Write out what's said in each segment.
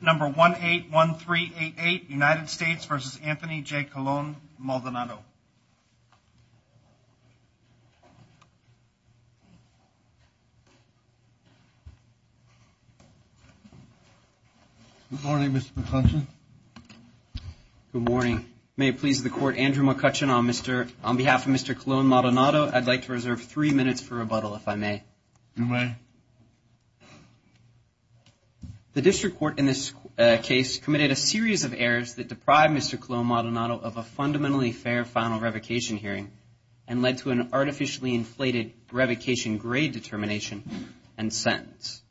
Number 181388, United States v. Anthony J. Colon-Maldonado. Good morning, Mr. McCutcheon. Good morning. May it please the Court, Andrew McCutcheon, on behalf of Mr. Colon-Maldonado, I'd like to reserve three minutes for rebuttal, if I may. You may. The District Court in this case committed a series of errors that deprived Mr. Colon-Maldonado of a fundamentally fair final revocation hearing and led to an artificially inflated revocation grade determination and sentence.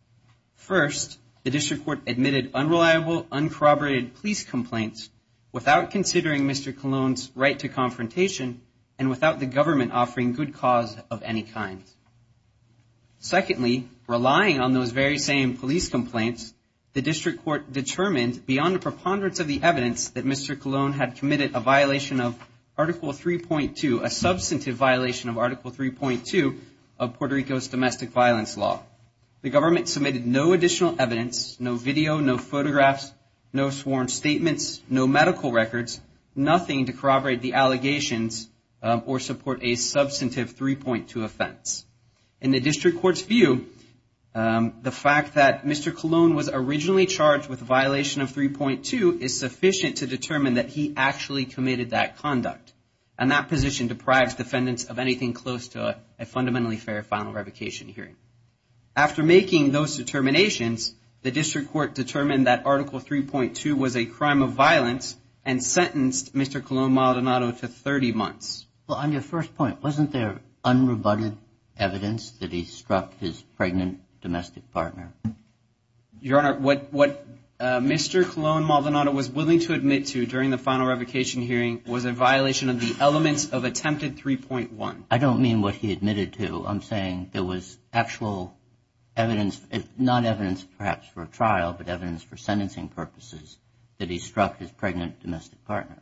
First, the District Court admitted unreliable, uncorroborated police complaints without considering Mr. Colon's right to confrontation and without the government offering good cause of any kind. Secondly, relying on those very same police complaints, the District Court determined beyond a preponderance of the evidence that Mr. Colon had committed a violation of Article 3.2, a substantive violation of Article 3.2 of Puerto Rico's domestic violence law. The government submitted no additional evidence, no video, no photographs, no sworn statements, no medical records, nothing to corroborate the allegations or support a substantive 3.2 offense. In the District Court's view, the fact that Mr. Colon was originally charged with a violation of 3.2 is sufficient to determine that he actually committed that conduct, and that position deprives defendants of anything close to a fundamentally fair final revocation hearing. After making those determinations, the District Court determined that Article 3.2 was a crime of violence and sentenced Mr. Colon Maldonado to 30 months. Well, on your first point, wasn't there unrebutted evidence that he struck his pregnant domestic partner? Your Honor, what Mr. Colon Maldonado was willing to admit to during the final revocation hearing was a violation of the elements of Attempted 3.1. I don't mean what he admitted to. I'm saying there was actual evidence, not evidence perhaps for a trial, but evidence for sentencing purposes that he struck his pregnant domestic partner.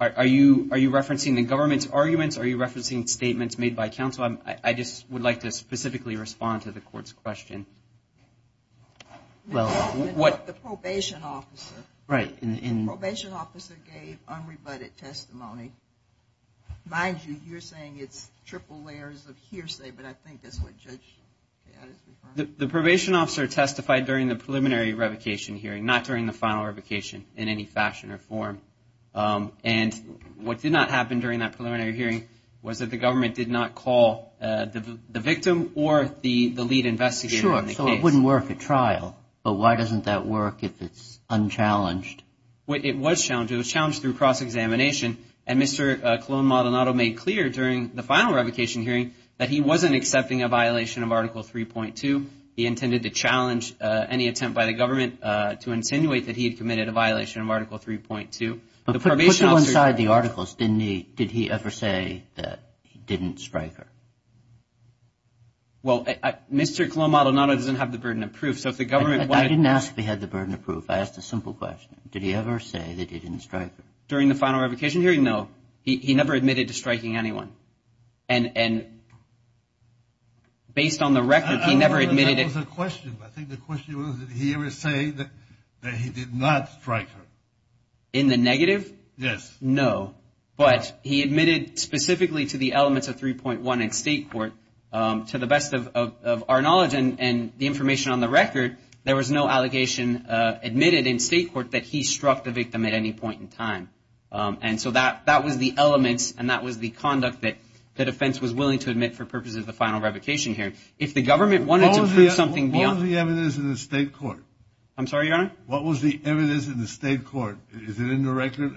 Are you referencing the government's arguments? Are you referencing statements made by counsel? I just would like to specifically respond to the Court's question. Well, the probation officer gave unrebutted testimony. Mind you, you're saying it's triple layers of hearsay, but I think that's what Judge Payette is referring to. The probation officer testified during the preliminary revocation hearing, not during the final revocation in any fashion or form. And what did not happen during that preliminary hearing was that the government did not call the victim or the lead investigator in the case. Sure, so it wouldn't work at trial. But why doesn't that work if it's unchallenged? It was challenged. It was challenged through cross-examination. And Mr. Colon Maldonado made clear during the final revocation hearing that he wasn't accepting a violation of Article 3.2. He intended to challenge any attempt by the government to insinuate that he had committed a violation of Article 3.2. But put that inside the articles. Did he ever say that he didn't strike her? Well, Mr. Colon Maldonado doesn't have the burden of proof. I didn't ask if he had the burden of proof. I asked a simple question. Did he ever say that he didn't strike her? During the final revocation hearing, no. He never admitted to striking anyone. And based on the record, he never admitted it. That was the question. I think the question was did he ever say that he did not strike her? In the negative? Yes. No. But he admitted specifically to the elements of 3.1 in state court. To the best of our knowledge and the information on the record, there was no allegation admitted in state court that he struck the victim at any point in time. And so that was the elements and that was the conduct that the defense was willing to admit for purposes of the final revocation hearing. What was the evidence in the state court? I'm sorry, Your Honor? What was the evidence in the state court? Is it in the record?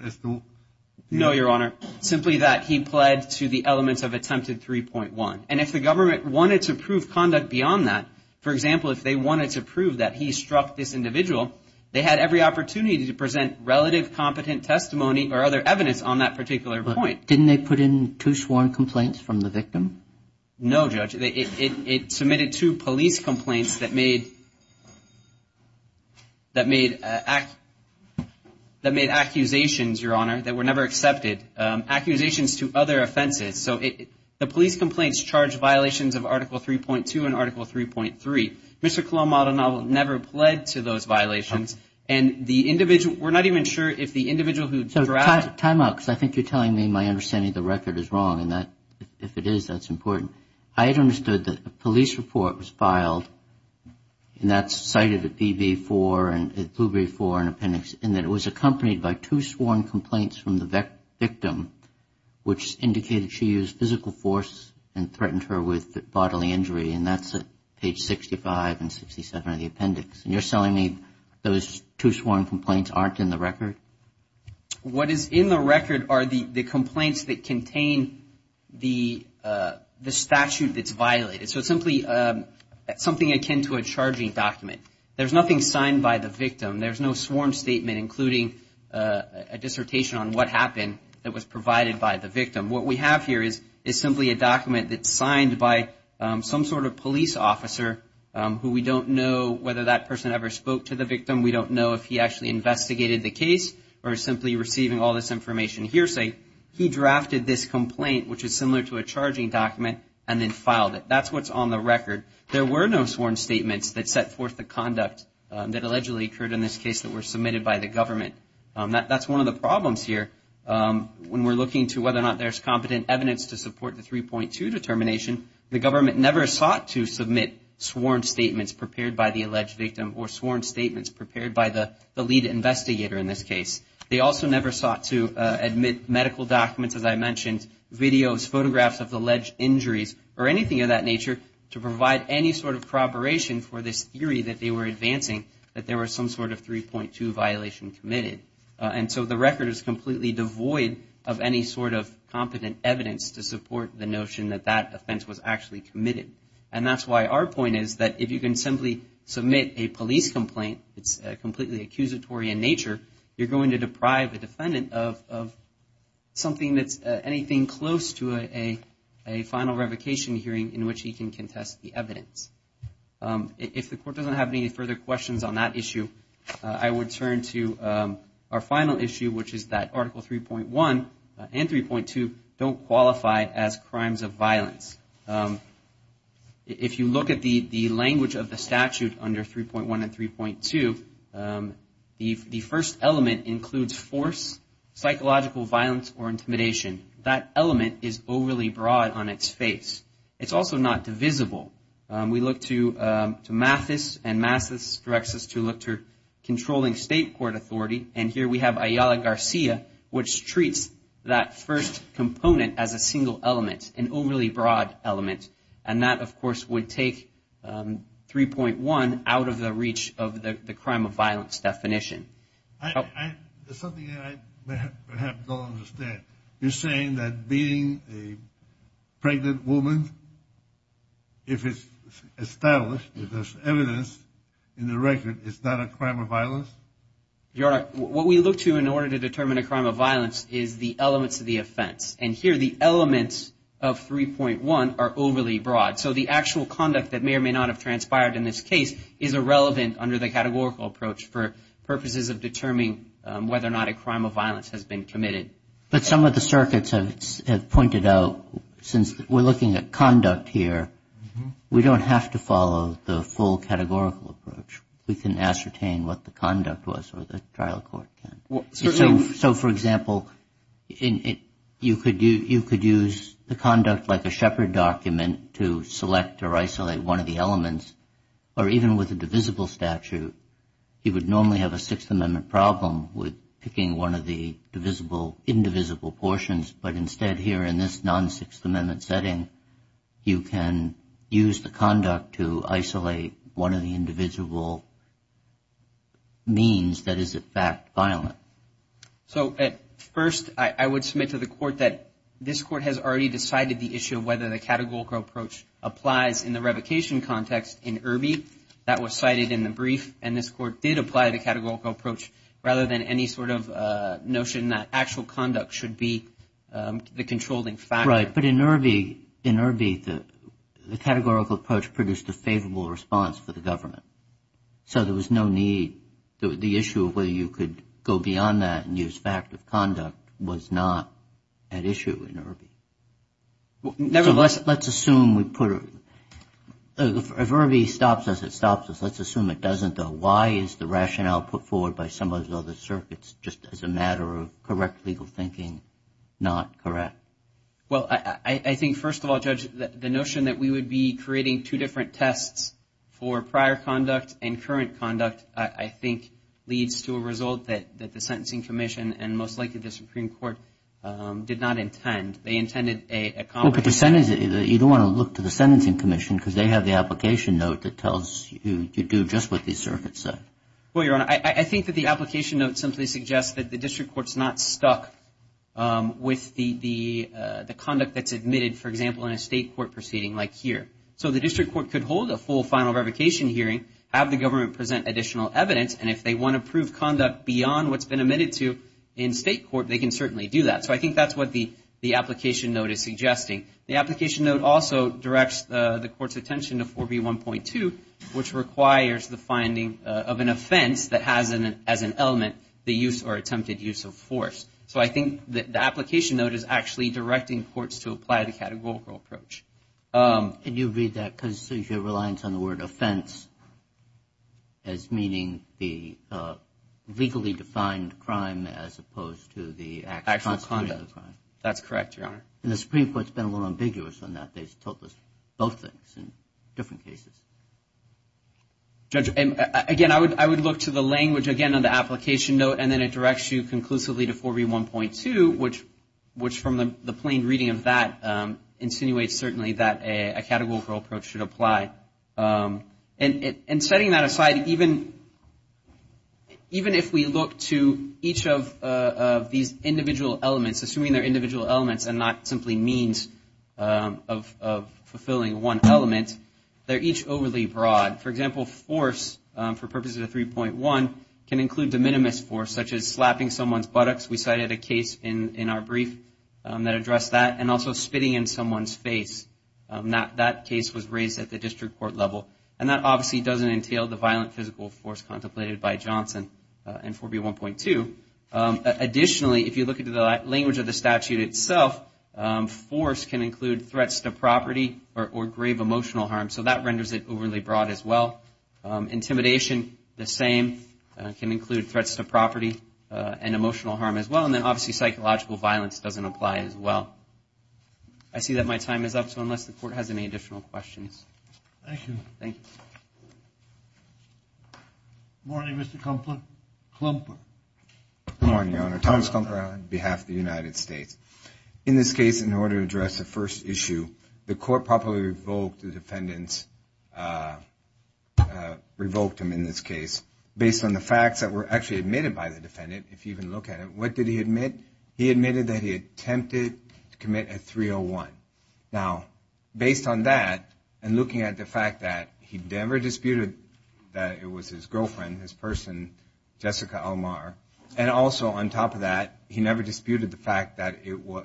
No, Your Honor. Simply that he pled to the elements of Attempted 3.1. And if the government wanted to prove conduct beyond that, for example, if they wanted to prove that he struck this individual, they had every opportunity to present relative competent testimony or other evidence on that particular point. Didn't they put in two sworn complaints from the victim? No, Judge. It submitted two police complaints that made accusations, Your Honor, that were never accepted, accusations to other offenses. So the police complaints charged violations of Article 3.2 and Article 3.3. Mr. Colombo, I don't know, never pled to those violations. And the individual, we're not even sure if the individual who drafted. Time out because I think you're telling me my understanding of the record is wrong. And if it is, that's important. I had understood that a police report was filed, and that's cited at PB4 and at Blueberry 4 in appendix, and that it was accompanied by two sworn complaints from the victim, which indicated she used physical force and threatened her with bodily injury. And that's at page 65 and 67 of the appendix. And you're telling me those two sworn complaints aren't in the record? What is in the record are the complaints that contain the statute that's violated. So it's simply something akin to a charging document. There's nothing signed by the victim. There's no sworn statement, including a dissertation on what happened, that was provided by the victim. What we have here is simply a document that's signed by some sort of police officer who we don't know whether that person ever spoke to the victim. We don't know if he actually investigated the case or is simply receiving all this information hearsay. He drafted this complaint, which is similar to a charging document, and then filed it. That's what's on the record. There were no sworn statements that set forth the conduct that allegedly occurred in this case that were submitted by the government. That's one of the problems here. When we're looking to whether or not there's competent evidence to support the 3.2 determination, the government never sought to submit sworn statements prepared by the alleged victim or sworn statements prepared by the lead investigator in this case. They also never sought to admit medical documents, as I mentioned, videos, photographs of the alleged injuries, or anything of that nature, to provide any sort of preparation for this theory that they were advancing, that there was some sort of 3.2 violation committed. And so the record is completely devoid of any sort of competent evidence to support the notion that that offense was actually committed. And that's why our point is that if you can simply submit a police complaint, it's completely accusatory in nature, you're going to deprive a defendant of anything close to a final revocation hearing in which he can contest the evidence. If the court doesn't have any further questions on that issue, I would turn to our final issue, which is that Article 3.1 and 3.2 don't qualify as crimes of violence. If you look at the language of the statute under 3.1 and 3.2, the first element includes force, psychological violence, or intimidation. That element is overly broad on its face. It's also not divisible. We look to Mathis, and Mathis directs us to look to controlling state court authority. And here we have Ayala Garcia, which treats that first component as a single element, an overly broad element. And that, of course, would take 3.1 out of the reach of the crime of violence definition. Something I perhaps don't understand. You're saying that beating a pregnant woman, if it's established, if there's evidence in the record, is not a crime of violence? Your Honor, what we look to in order to determine a crime of violence is the elements of the offense. And here the elements of 3.1 are overly broad. So the actual conduct that may or may not have transpired in this case is irrelevant under the categorical approach for purposes of determining whether or not a crime of violence has been committed. But some of the circuits have pointed out, since we're looking at conduct here, we don't have to follow the full categorical approach. We can ascertain what the conduct was or the trial court can. So, for example, you could use the conduct like a Shepard document to select or isolate one of the elements. Or even with a divisible statute, you would normally have a Sixth Amendment problem with picking one of the divisible, indivisible portions. But instead, here in this non-Sixth Amendment setting, you can use the conduct to isolate one of the individual means that is, in fact, violent. So, at first, I would submit to the court that this court has already decided the issue of whether the categorical approach applies in the revocation context in Irby. That was cited in the brief, and this court did apply the categorical approach rather than any sort of notion that actual conduct should be the controlling factor. Right, but in Irby, the categorical approach produced a favorable response for the government. So there was no need. The issue of whether you could go beyond that and use fact of conduct was not at issue in Irby. Nevertheless, let's assume we put it. If Irby stops us, it stops us. Let's assume it doesn't, though. Why is the rationale put forward by some of those other circuits just as a matter of correct legal thinking not correct? Well, I think, first of all, Judge, the notion that we would be creating two different tests for prior conduct and current conduct, I think, leads to a result that the Sentencing Commission and most likely the Supreme Court did not intend. They intended a combination. Well, but you don't want to look to the Sentencing Commission because they have the application note that tells you to do just what these circuits said. Well, Your Honor, I think that the application note simply suggests that the district court's not stuck with the conduct that's admitted, for example, in a state court proceeding like here. So the district court could hold a full final revocation hearing, have the government present additional evidence, and if they want to prove conduct beyond what's been admitted to in state court, they can certainly do that. So I think that's what the application note is suggesting. The application note also directs the court's attention to 4B1.2, which requires the finding of an offense that has as an element the use or attempted use of force. So I think the application note is actually directing courts to apply the categorical approach. And you read that because you have reliance on the word offense as meaning the legally defined crime as opposed to the actual conduct. That's correct, Your Honor. And the Supreme Court's been a little ambiguous on that. They've told us both things in different cases. Judge, again, I would look to the language, again, on the application note, and then it directs you conclusively to 4B1.2, which, from the plain reading of that, insinuates certainly that a categorical approach should apply. And setting that aside, even if we look to each of these individual elements, assuming they're individual elements and not simply means of fulfilling one element, they're each overly broad. For example, force, for purposes of 3.1, can include de minimis force, such as slapping someone's buttocks. We cited a case in our brief that addressed that, and also spitting in someone's face. That case was raised at the district court level, and that obviously doesn't entail the violent physical force contemplated by Johnson in 4B1.2. Additionally, if you look at the language of the statute itself, force can include threats to property or grave emotional harm, so that renders it overly broad as well. Intimidation, the same, can include threats to property and emotional harm as well, and then obviously psychological violence doesn't apply as well. I see that my time is up, so unless the Court has any additional questions. Thank you. Thank you. Good morning, Mr. Kumpler. Good morning, Your Honor. Thomas Kumpler on behalf of the United States. In this case, in order to address the first issue, the Court properly revoked the defendant's, revoked him in this case, based on the facts that were actually admitted by the defendant, if you even look at it. What did he admit? He admitted that he attempted to commit a 301. Now, based on that, and looking at the fact that he never disputed that it was his girlfriend, his person, Jessica Almar, and also on top of that, he never disputed the fact that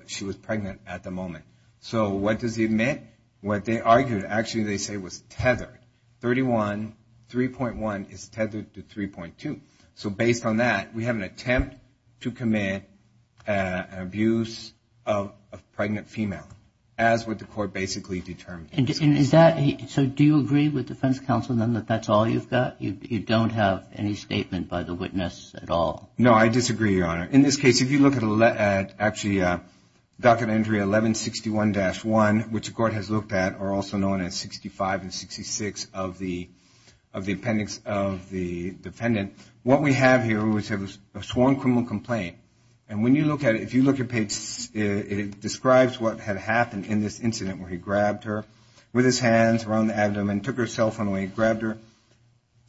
she was pregnant at the moment. So what does he admit? What they argued, actually they say was tethered. 31, 3.1 is tethered to 3.2. So based on that, we have an attempt to commit an abuse of a pregnant female, as what the Court basically determined. So do you agree with defense counsel then that that's all you've got? You don't have any statement by the witness at all? No, I disagree, Your Honor. In this case, if you look at actually docket entry 1161-1, which the Court has looked at or also known as 65 and 66 of the appendix of the defendant, what we have here was a sworn criminal complaint. And when you look at it, if you look at page, it describes what had happened in this incident where he grabbed her with his hands around the abdomen and took her cell phone away, grabbed her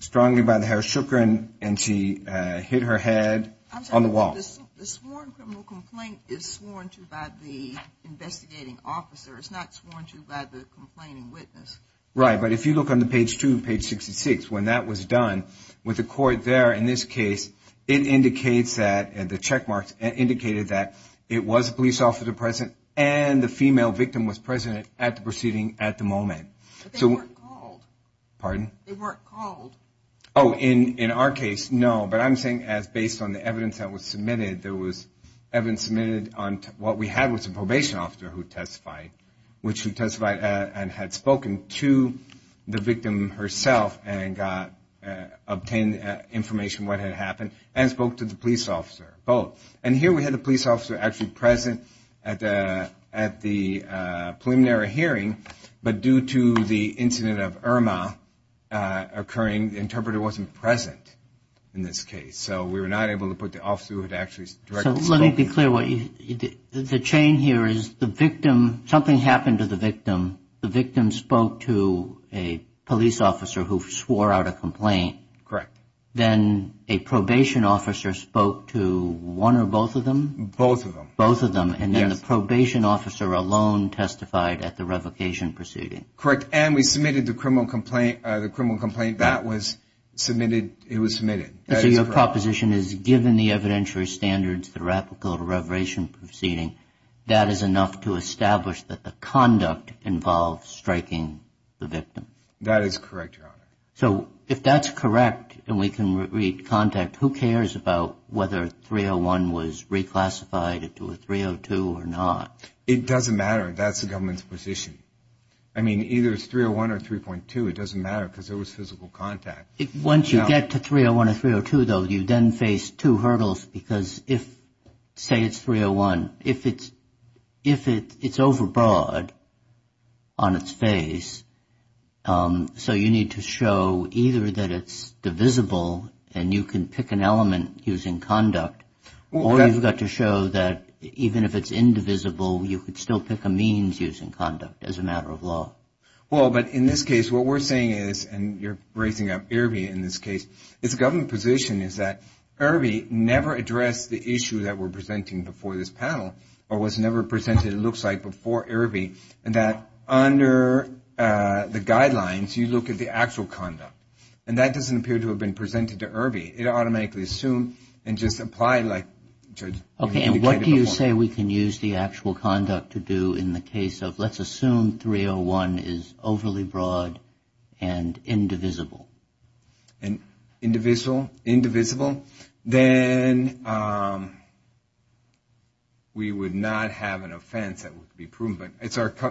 strongly by the hair, shook her, and she hit her head on the wall. I'm sorry, but the sworn criminal complaint is sworn to by the investigating officer. It's not sworn to by the complaining witness. Right, but if you look on the page 2, page 66, when that was done, with the Court there in this case, it indicates that, the check marks indicated that it was a police officer present and the female victim was present at the proceeding at the moment. But they weren't called. Pardon? They weren't called. Oh, in our case, no. But I'm saying as based on the evidence that was submitted, there was evidence submitted on what we had was a probation officer who testified, which she testified and had spoken to the victim herself and obtained information what had happened and spoke to the police officer, both. And here we had the police officer actually present at the preliminary hearing, but due to the incident of Irma occurring, the interpreter wasn't present in this case. So we were not able to put the officer who had actually directly spoken. So let me be clear. The chain here is the victim, something happened to the victim. The victim spoke to a police officer who swore out a complaint. Correct. Then a probation officer spoke to one or both of them? Both of them. Both of them. And then the probation officer alone testified at the revocation proceeding. Correct. And we submitted the criminal complaint. That was submitted. It was submitted. So your proposition is given the evidentiary standards, the replicable to reverberation proceeding, That is correct, Your Honor. So if that's correct and we can read contact, who cares about whether 301 was reclassified into a 302 or not? It doesn't matter. That's the government's position. I mean, either it's 301 or 3.2. It doesn't matter because there was physical contact. Once you get to 301 or 302, though, you then face two hurdles because if, say, it's 301, if it's overbroad on its face, so you need to show either that it's divisible and you can pick an element using conduct, or you've got to show that even if it's indivisible, you could still pick a means using conduct as a matter of law. Well, but in this case, what we're saying is, and you're raising up Irby in this case, it's government position is that Irby never addressed the issue that we're presenting before this panel or was never presented, it looks like, before Irby and that under the guidelines, you look at the actual conduct. And that doesn't appear to have been presented to Irby. It automatically assumed and just applied like Judge indicated before. Okay, and what do you say we can use the actual conduct to do in the case of let's assume 301 is overly broad and indivisible? And indivisible, then we would not have an offense that would be proven. But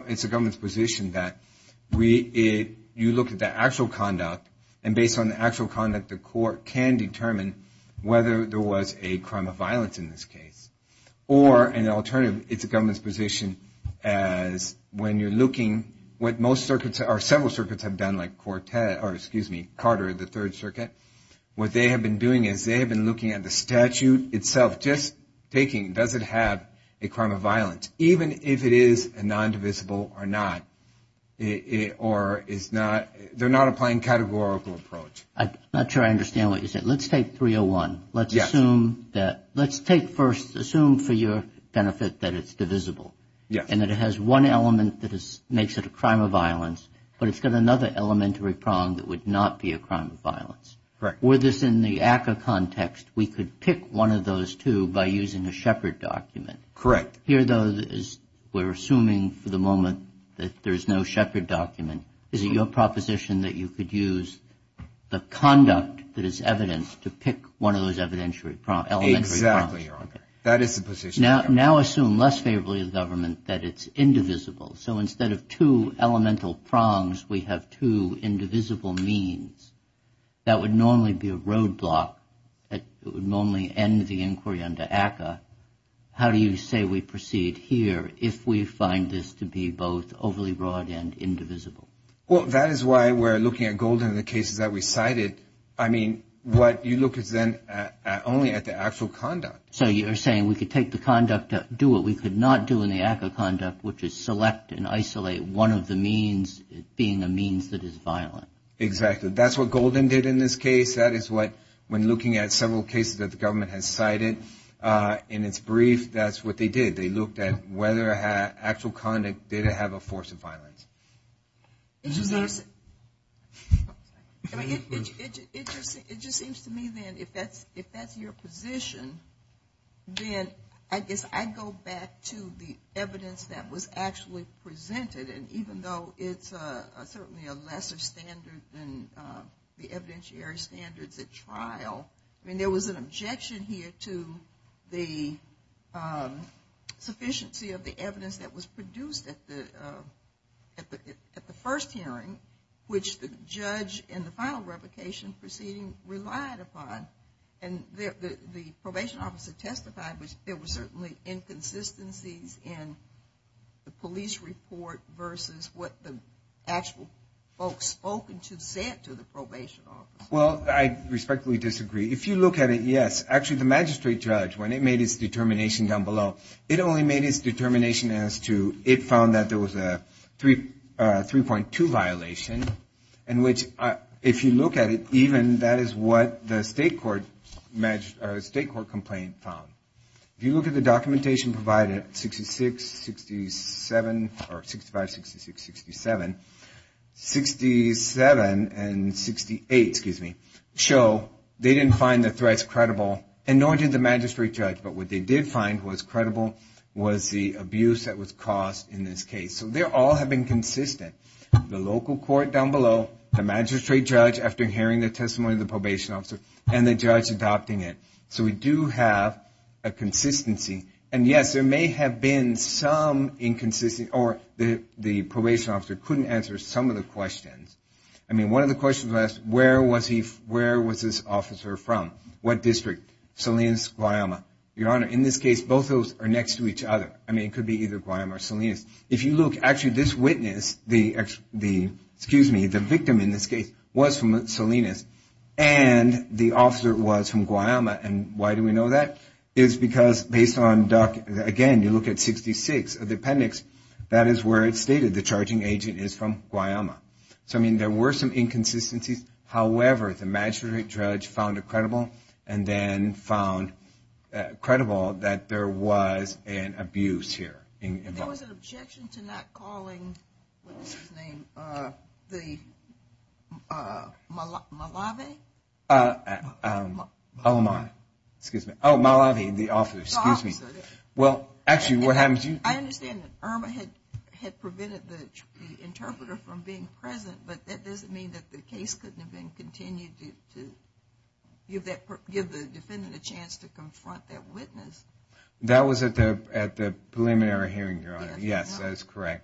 it's a government's position that you look at the actual conduct, and based on the actual conduct, the court can determine whether there was a crime of violence in this case. Or an alternative, it's a government's position as when you're looking, what most circuits or several circuits have done, like Carter, the Third Circuit, what they have been doing is they have been looking at the statute itself, just taking does it have a crime of violence, even if it is a non-divisible or not. Or is not, they're not applying categorical approach. I'm not sure I understand what you said. Let's take 301. Let's assume that, let's take first, assume for your benefit that it's divisible. Yes. And that it has one element that makes it a crime of violence, but it's got another elementary prong that would not be a crime of violence. Correct. Were this in the ACCA context, we could pick one of those two by using a Shepard document. Correct. Here, though, we're assuming for the moment that there's no Shepard document. Is it your proposition that you could use the conduct that is evident to pick one of those elementary prongs? Exactly, Your Honor. That is the position. Let's now assume less favorably of the government that it's indivisible. So instead of two elemental prongs, we have two indivisible means. That would normally be a roadblock. It would normally end the inquiry under ACCA. How do you say we proceed here if we find this to be both overly broad and indivisible? Well, that is why we're looking at Golden in the cases that we cited. I mean, what you look is then only at the actual conduct. So you're saying we could take the conduct, do what we could not do in the ACCA conduct, which is select and isolate one of the means being a means that is violent. Exactly. That's what Golden did in this case. That is what, when looking at several cases that the government has cited in its brief, that's what they did. They looked at whether actual conduct did have a force of violence. It just seems to me, then, if that's your position, then I guess I'd go back to the evidence that was actually presented. And even though it's certainly a lesser standard than the evidentiary standards at trial, I mean, there was an objection here to the sufficiency of the evidence that was produced at the first hearing, which the judge in the final revocation proceeding relied upon. And the probation officer testified there were certainly inconsistencies in the police report versus what the actual folks spoken to said to the probation officer. Well, I respectfully disagree. If you look at it, yes, actually the magistrate judge, when it made its determination down below, it only made its determination as to it found that there was a 3.2 violation, in which, if you look at it even, that is what the state court complaint found. If you look at the documentation provided, 66, 67, or 65, 66, 67, 67, and 68, excuse me, show they didn't find the threats credible, and nor did the magistrate judge. But what they did find was credible was the abuse that was caused in this case. So they all have been consistent, the local court down below, the magistrate judge after hearing the testimony of the probation officer, and the judge adopting it. So we do have a consistency, and yes, there may have been some inconsistency, or the probation officer couldn't answer some of the questions. I mean, one of the questions was, where was this officer from? What district? Salinas, Guayama. Your Honor, in this case, both of those are next to each other. I mean, it could be either Guayama or Salinas. If you look, actually this witness, the, excuse me, the victim in this case was from Salinas, and the officer was from Guayama, and why do we know that? It's because based on, again, you look at 66, the appendix, that is where it's stated the charging agent is from Guayama. So I mean, there were some inconsistencies, however, the magistrate judge found it credible, and then found credible that there was an abuse here. There was an objection to not calling, what was his name, the Malavi? Alamani, excuse me. Oh, Malavi, the officer, excuse me. Well, actually, what happens, you. I understand that Irma had prevented the interpreter from being present, but that doesn't mean that the case couldn't have been continued to give the defendant a chance to confront that witness. That was at the preliminary hearing, Your Honor. Yes, that is correct.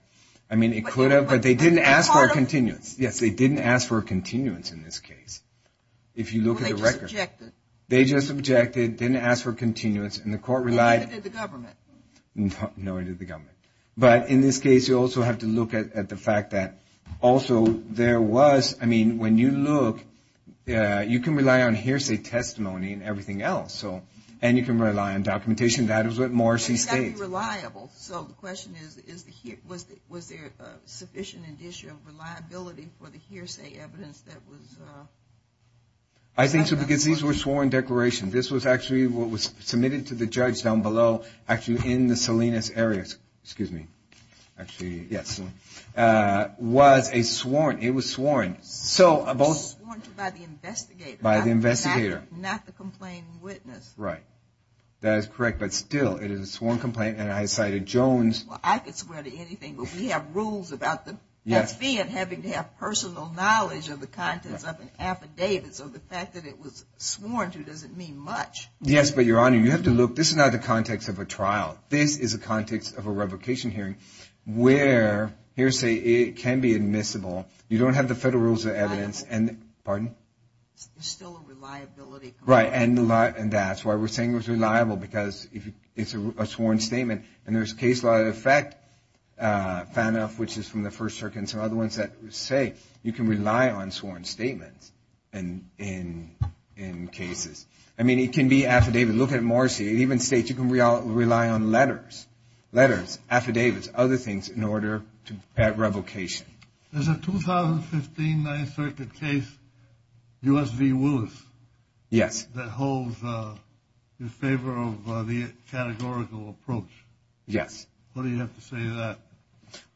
I mean, it could have, but they didn't ask for a continuance. Yes, they didn't ask for a continuance in this case. If you look at the record. Well, they just objected. They just objected, didn't ask for a continuance, and the court relied. Nor did the government. No, nor did the government. But in this case, you also have to look at the fact that also there was, I mean, when you look, you can rely on hearsay testimony and everything else, and you can rely on documentation. That is what Morrissey states. It's got to be reliable. So the question is, was there sufficient and issue of reliability for the hearsay evidence that was... I think so, because these were sworn declarations. This was actually what was submitted to the judge down below, actually in the Salinas area. Excuse me. Actually, yes. It was sworn. Sworn by the investigator. By the investigator. Not the complaining witness. Right. That is correct. But still, it is a sworn complaint, and I cited Jones... Well, I could swear to anything, but we have rules about the... Yes. Having to have personal knowledge of the contents of an affidavit, so the fact that it was sworn to doesn't mean much. Yes, but, Your Honor, you have to look... This is not the context of a trial. This is a context of a revocation hearing where hearsay can be admissible. You don't have the federal rules of evidence... Reliable. Pardon? There's still a reliability component. Right, and that's why we're saying it was reliable, because it's a sworn statement, and there's case law that affect FANF, which is from the First Circuit, and some other ones that say you can rely on sworn statements in cases. I mean, it can be affidavit. Look at Marcy. It even states you can rely on letters, affidavits, other things in order to have revocation. There's a 2015 Ninth Circuit case, U.S. v. Willis. Yes. That holds in favor of the categorical approach. Yes. Why do you have to say that?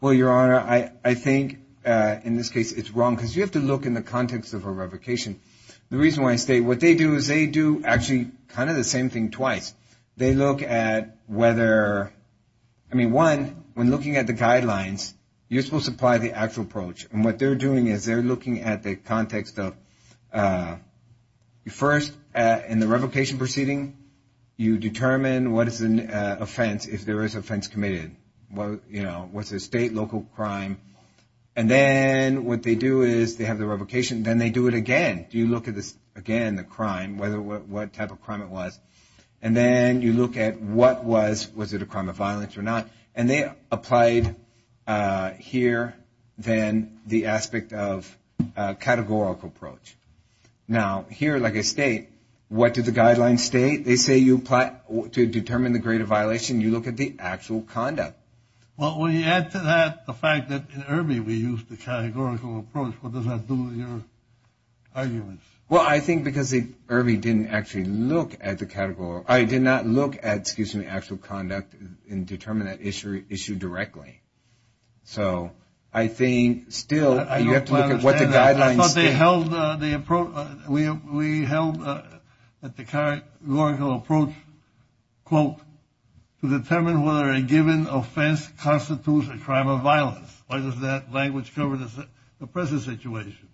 Well, Your Honor, I think in this case it's wrong, because you have to look in the context of a revocation. The reason why I state what they do is they do actually kind of the same thing twice. They look at whether, I mean, one, when looking at the guidelines, you're supposed to apply the actual approach, and what they're doing is they're looking at the context of first, in the revocation proceeding, you determine what is an offense if there is offense committed. You know, was it a state, local crime? And then what they do is they have the revocation, and then they do it again. You look at this again, the crime, what type of crime it was, and then you look at what was, was it a crime of violence or not, and they applied here then the aspect of categorical approach. Now, here, like I state, what did the guidelines state? They say you apply to determine the grade of violation. You look at the actual conduct. Well, when you add to that the fact that in Irby we used the categorical approach, what does that do to your arguments? Well, I think because Irby didn't actually look at the categorical, I did not look at, excuse me, actual conduct and determine that issue directly. So I think still you have to look at what the guidelines state. I thought they held the approach, we held that the categorical approach, quote, to determine whether a given offense constitutes a crime of violence. Why does that language cover the present situation?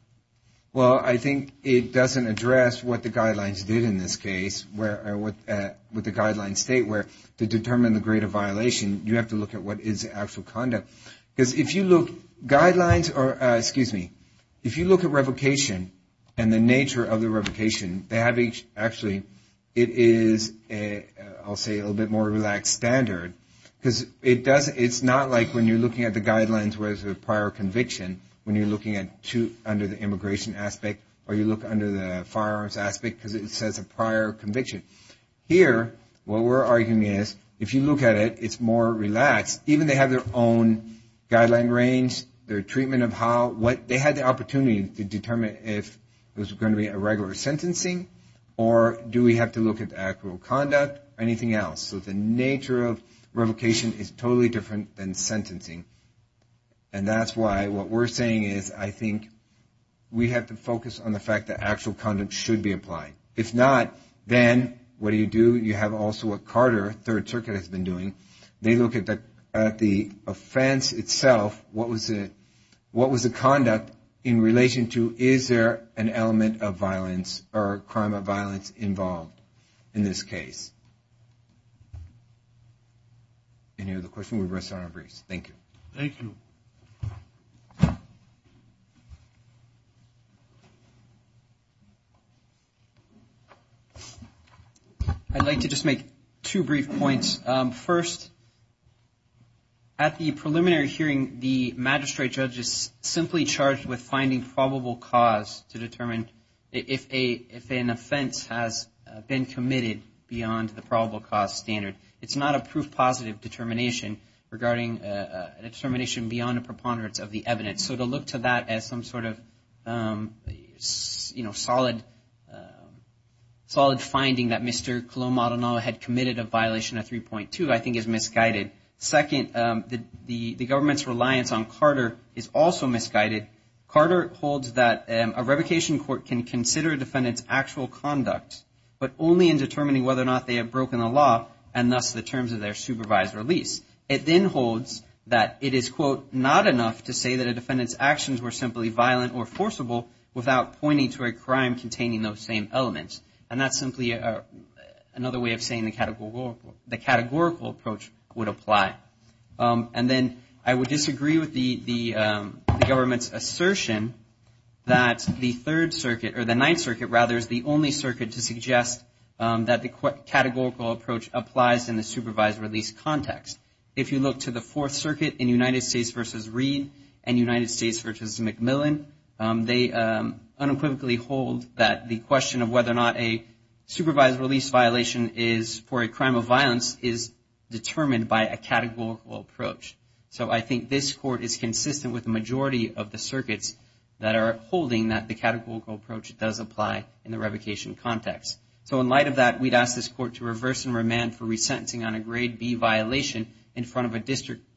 Well, I think it doesn't address what the guidelines did in this case, what the guidelines state, where to determine the grade of violation, you have to look at what is the actual conduct. Because if you look, guidelines are, excuse me, if you look at revocation and the nature of the revocation, they have each, actually, it is, I'll say, a little bit more relaxed standard, because it's not like when you're looking at the guidelines where there's a prior conviction, when you're looking under the immigration aspect, or you look under the firearms aspect, because it says a prior conviction. Here, what we're arguing is, if you look at it, it's more relaxed. Even they have their own guideline range, their treatment of how, they had the opportunity to determine if it was going to be a regular sentencing, or do we have to look at the actual conduct, or anything else. So the nature of revocation is totally different than sentencing. And that's why what we're saying is, I think, we have to focus on the fact that actual conduct should be applied. If not, then what do you do? You have also what Carter, Third Circuit, has been doing. They look at the offense itself, what was the conduct in relation to, is there an element of violence or crime of violence involved in this case. Any other questions? We'll rest our briefs. Thank you. Thank you. I'd like to just make two brief points. First, at the preliminary hearing, the magistrate judge is simply charged with finding probable cause to determine if an offense has been committed beyond the probable cause standard. It's not a proof positive determination regarding, a determination beyond a preponderance of the evidence. So to look to that as some sort of, you know, solid finding that Mr. Colombo had committed a violation of 3.2, I think is misguided. Second, the government's reliance on Carter is also misguided. Carter holds that a revocation court can consider a defendant's actual conduct, but only in determining whether or not they have broken the law, and thus the terms of their supervised release. It then holds that it is, quote, not enough to say that a defendant's actions were simply violent or forcible without pointing to a crime containing those same elements. And that's simply another way of saying the categorical approach would apply. And then I would disagree with the government's assertion that the Third Circuit, or the Ninth Circuit, rather, is the only circuit to suggest that the categorical approach applies in the supervised release context. If you look to the Fourth Circuit in United States v. Reed and United States v. McMillan, they unequivocally hold that the question of whether or not a supervised release violation is for a crime of violence is determined by a categorical approach. So I think this court is consistent with the majority of the circuits that are holding that the categorical approach does apply in the revocation context. So in light of that, we'd ask this court to reverse and remand for resentencing on a Grade B violation in front of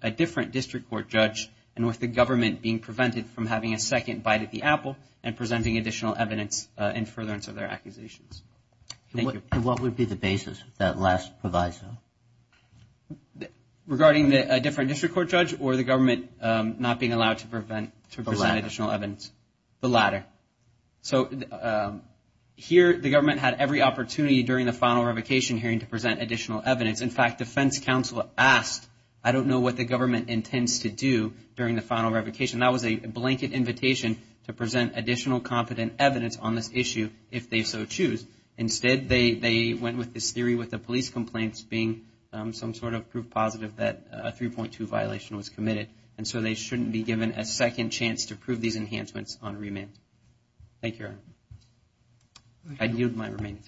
a different district court judge, and with the government being prevented from having a second bite at the apple and presenting additional evidence in furtherance of their accusations. Thank you. And what would be the basis if that last proviso? Regarding a different district court judge or the government not being allowed to present additional evidence? The latter. So here the government had every opportunity during the final revocation hearing to present additional evidence. In fact, defense counsel asked, I don't know what the government intends to do during the final revocation. That was a blanket invitation to present additional competent evidence on this issue if they so choose. Instead, they went with this theory with the police complaints being some sort of proof positive that a 3.2 violation was committed, and so they shouldn't be given a second chance to prove these enhancements on remand. Thank you, Your Honor. I yield my remaining time.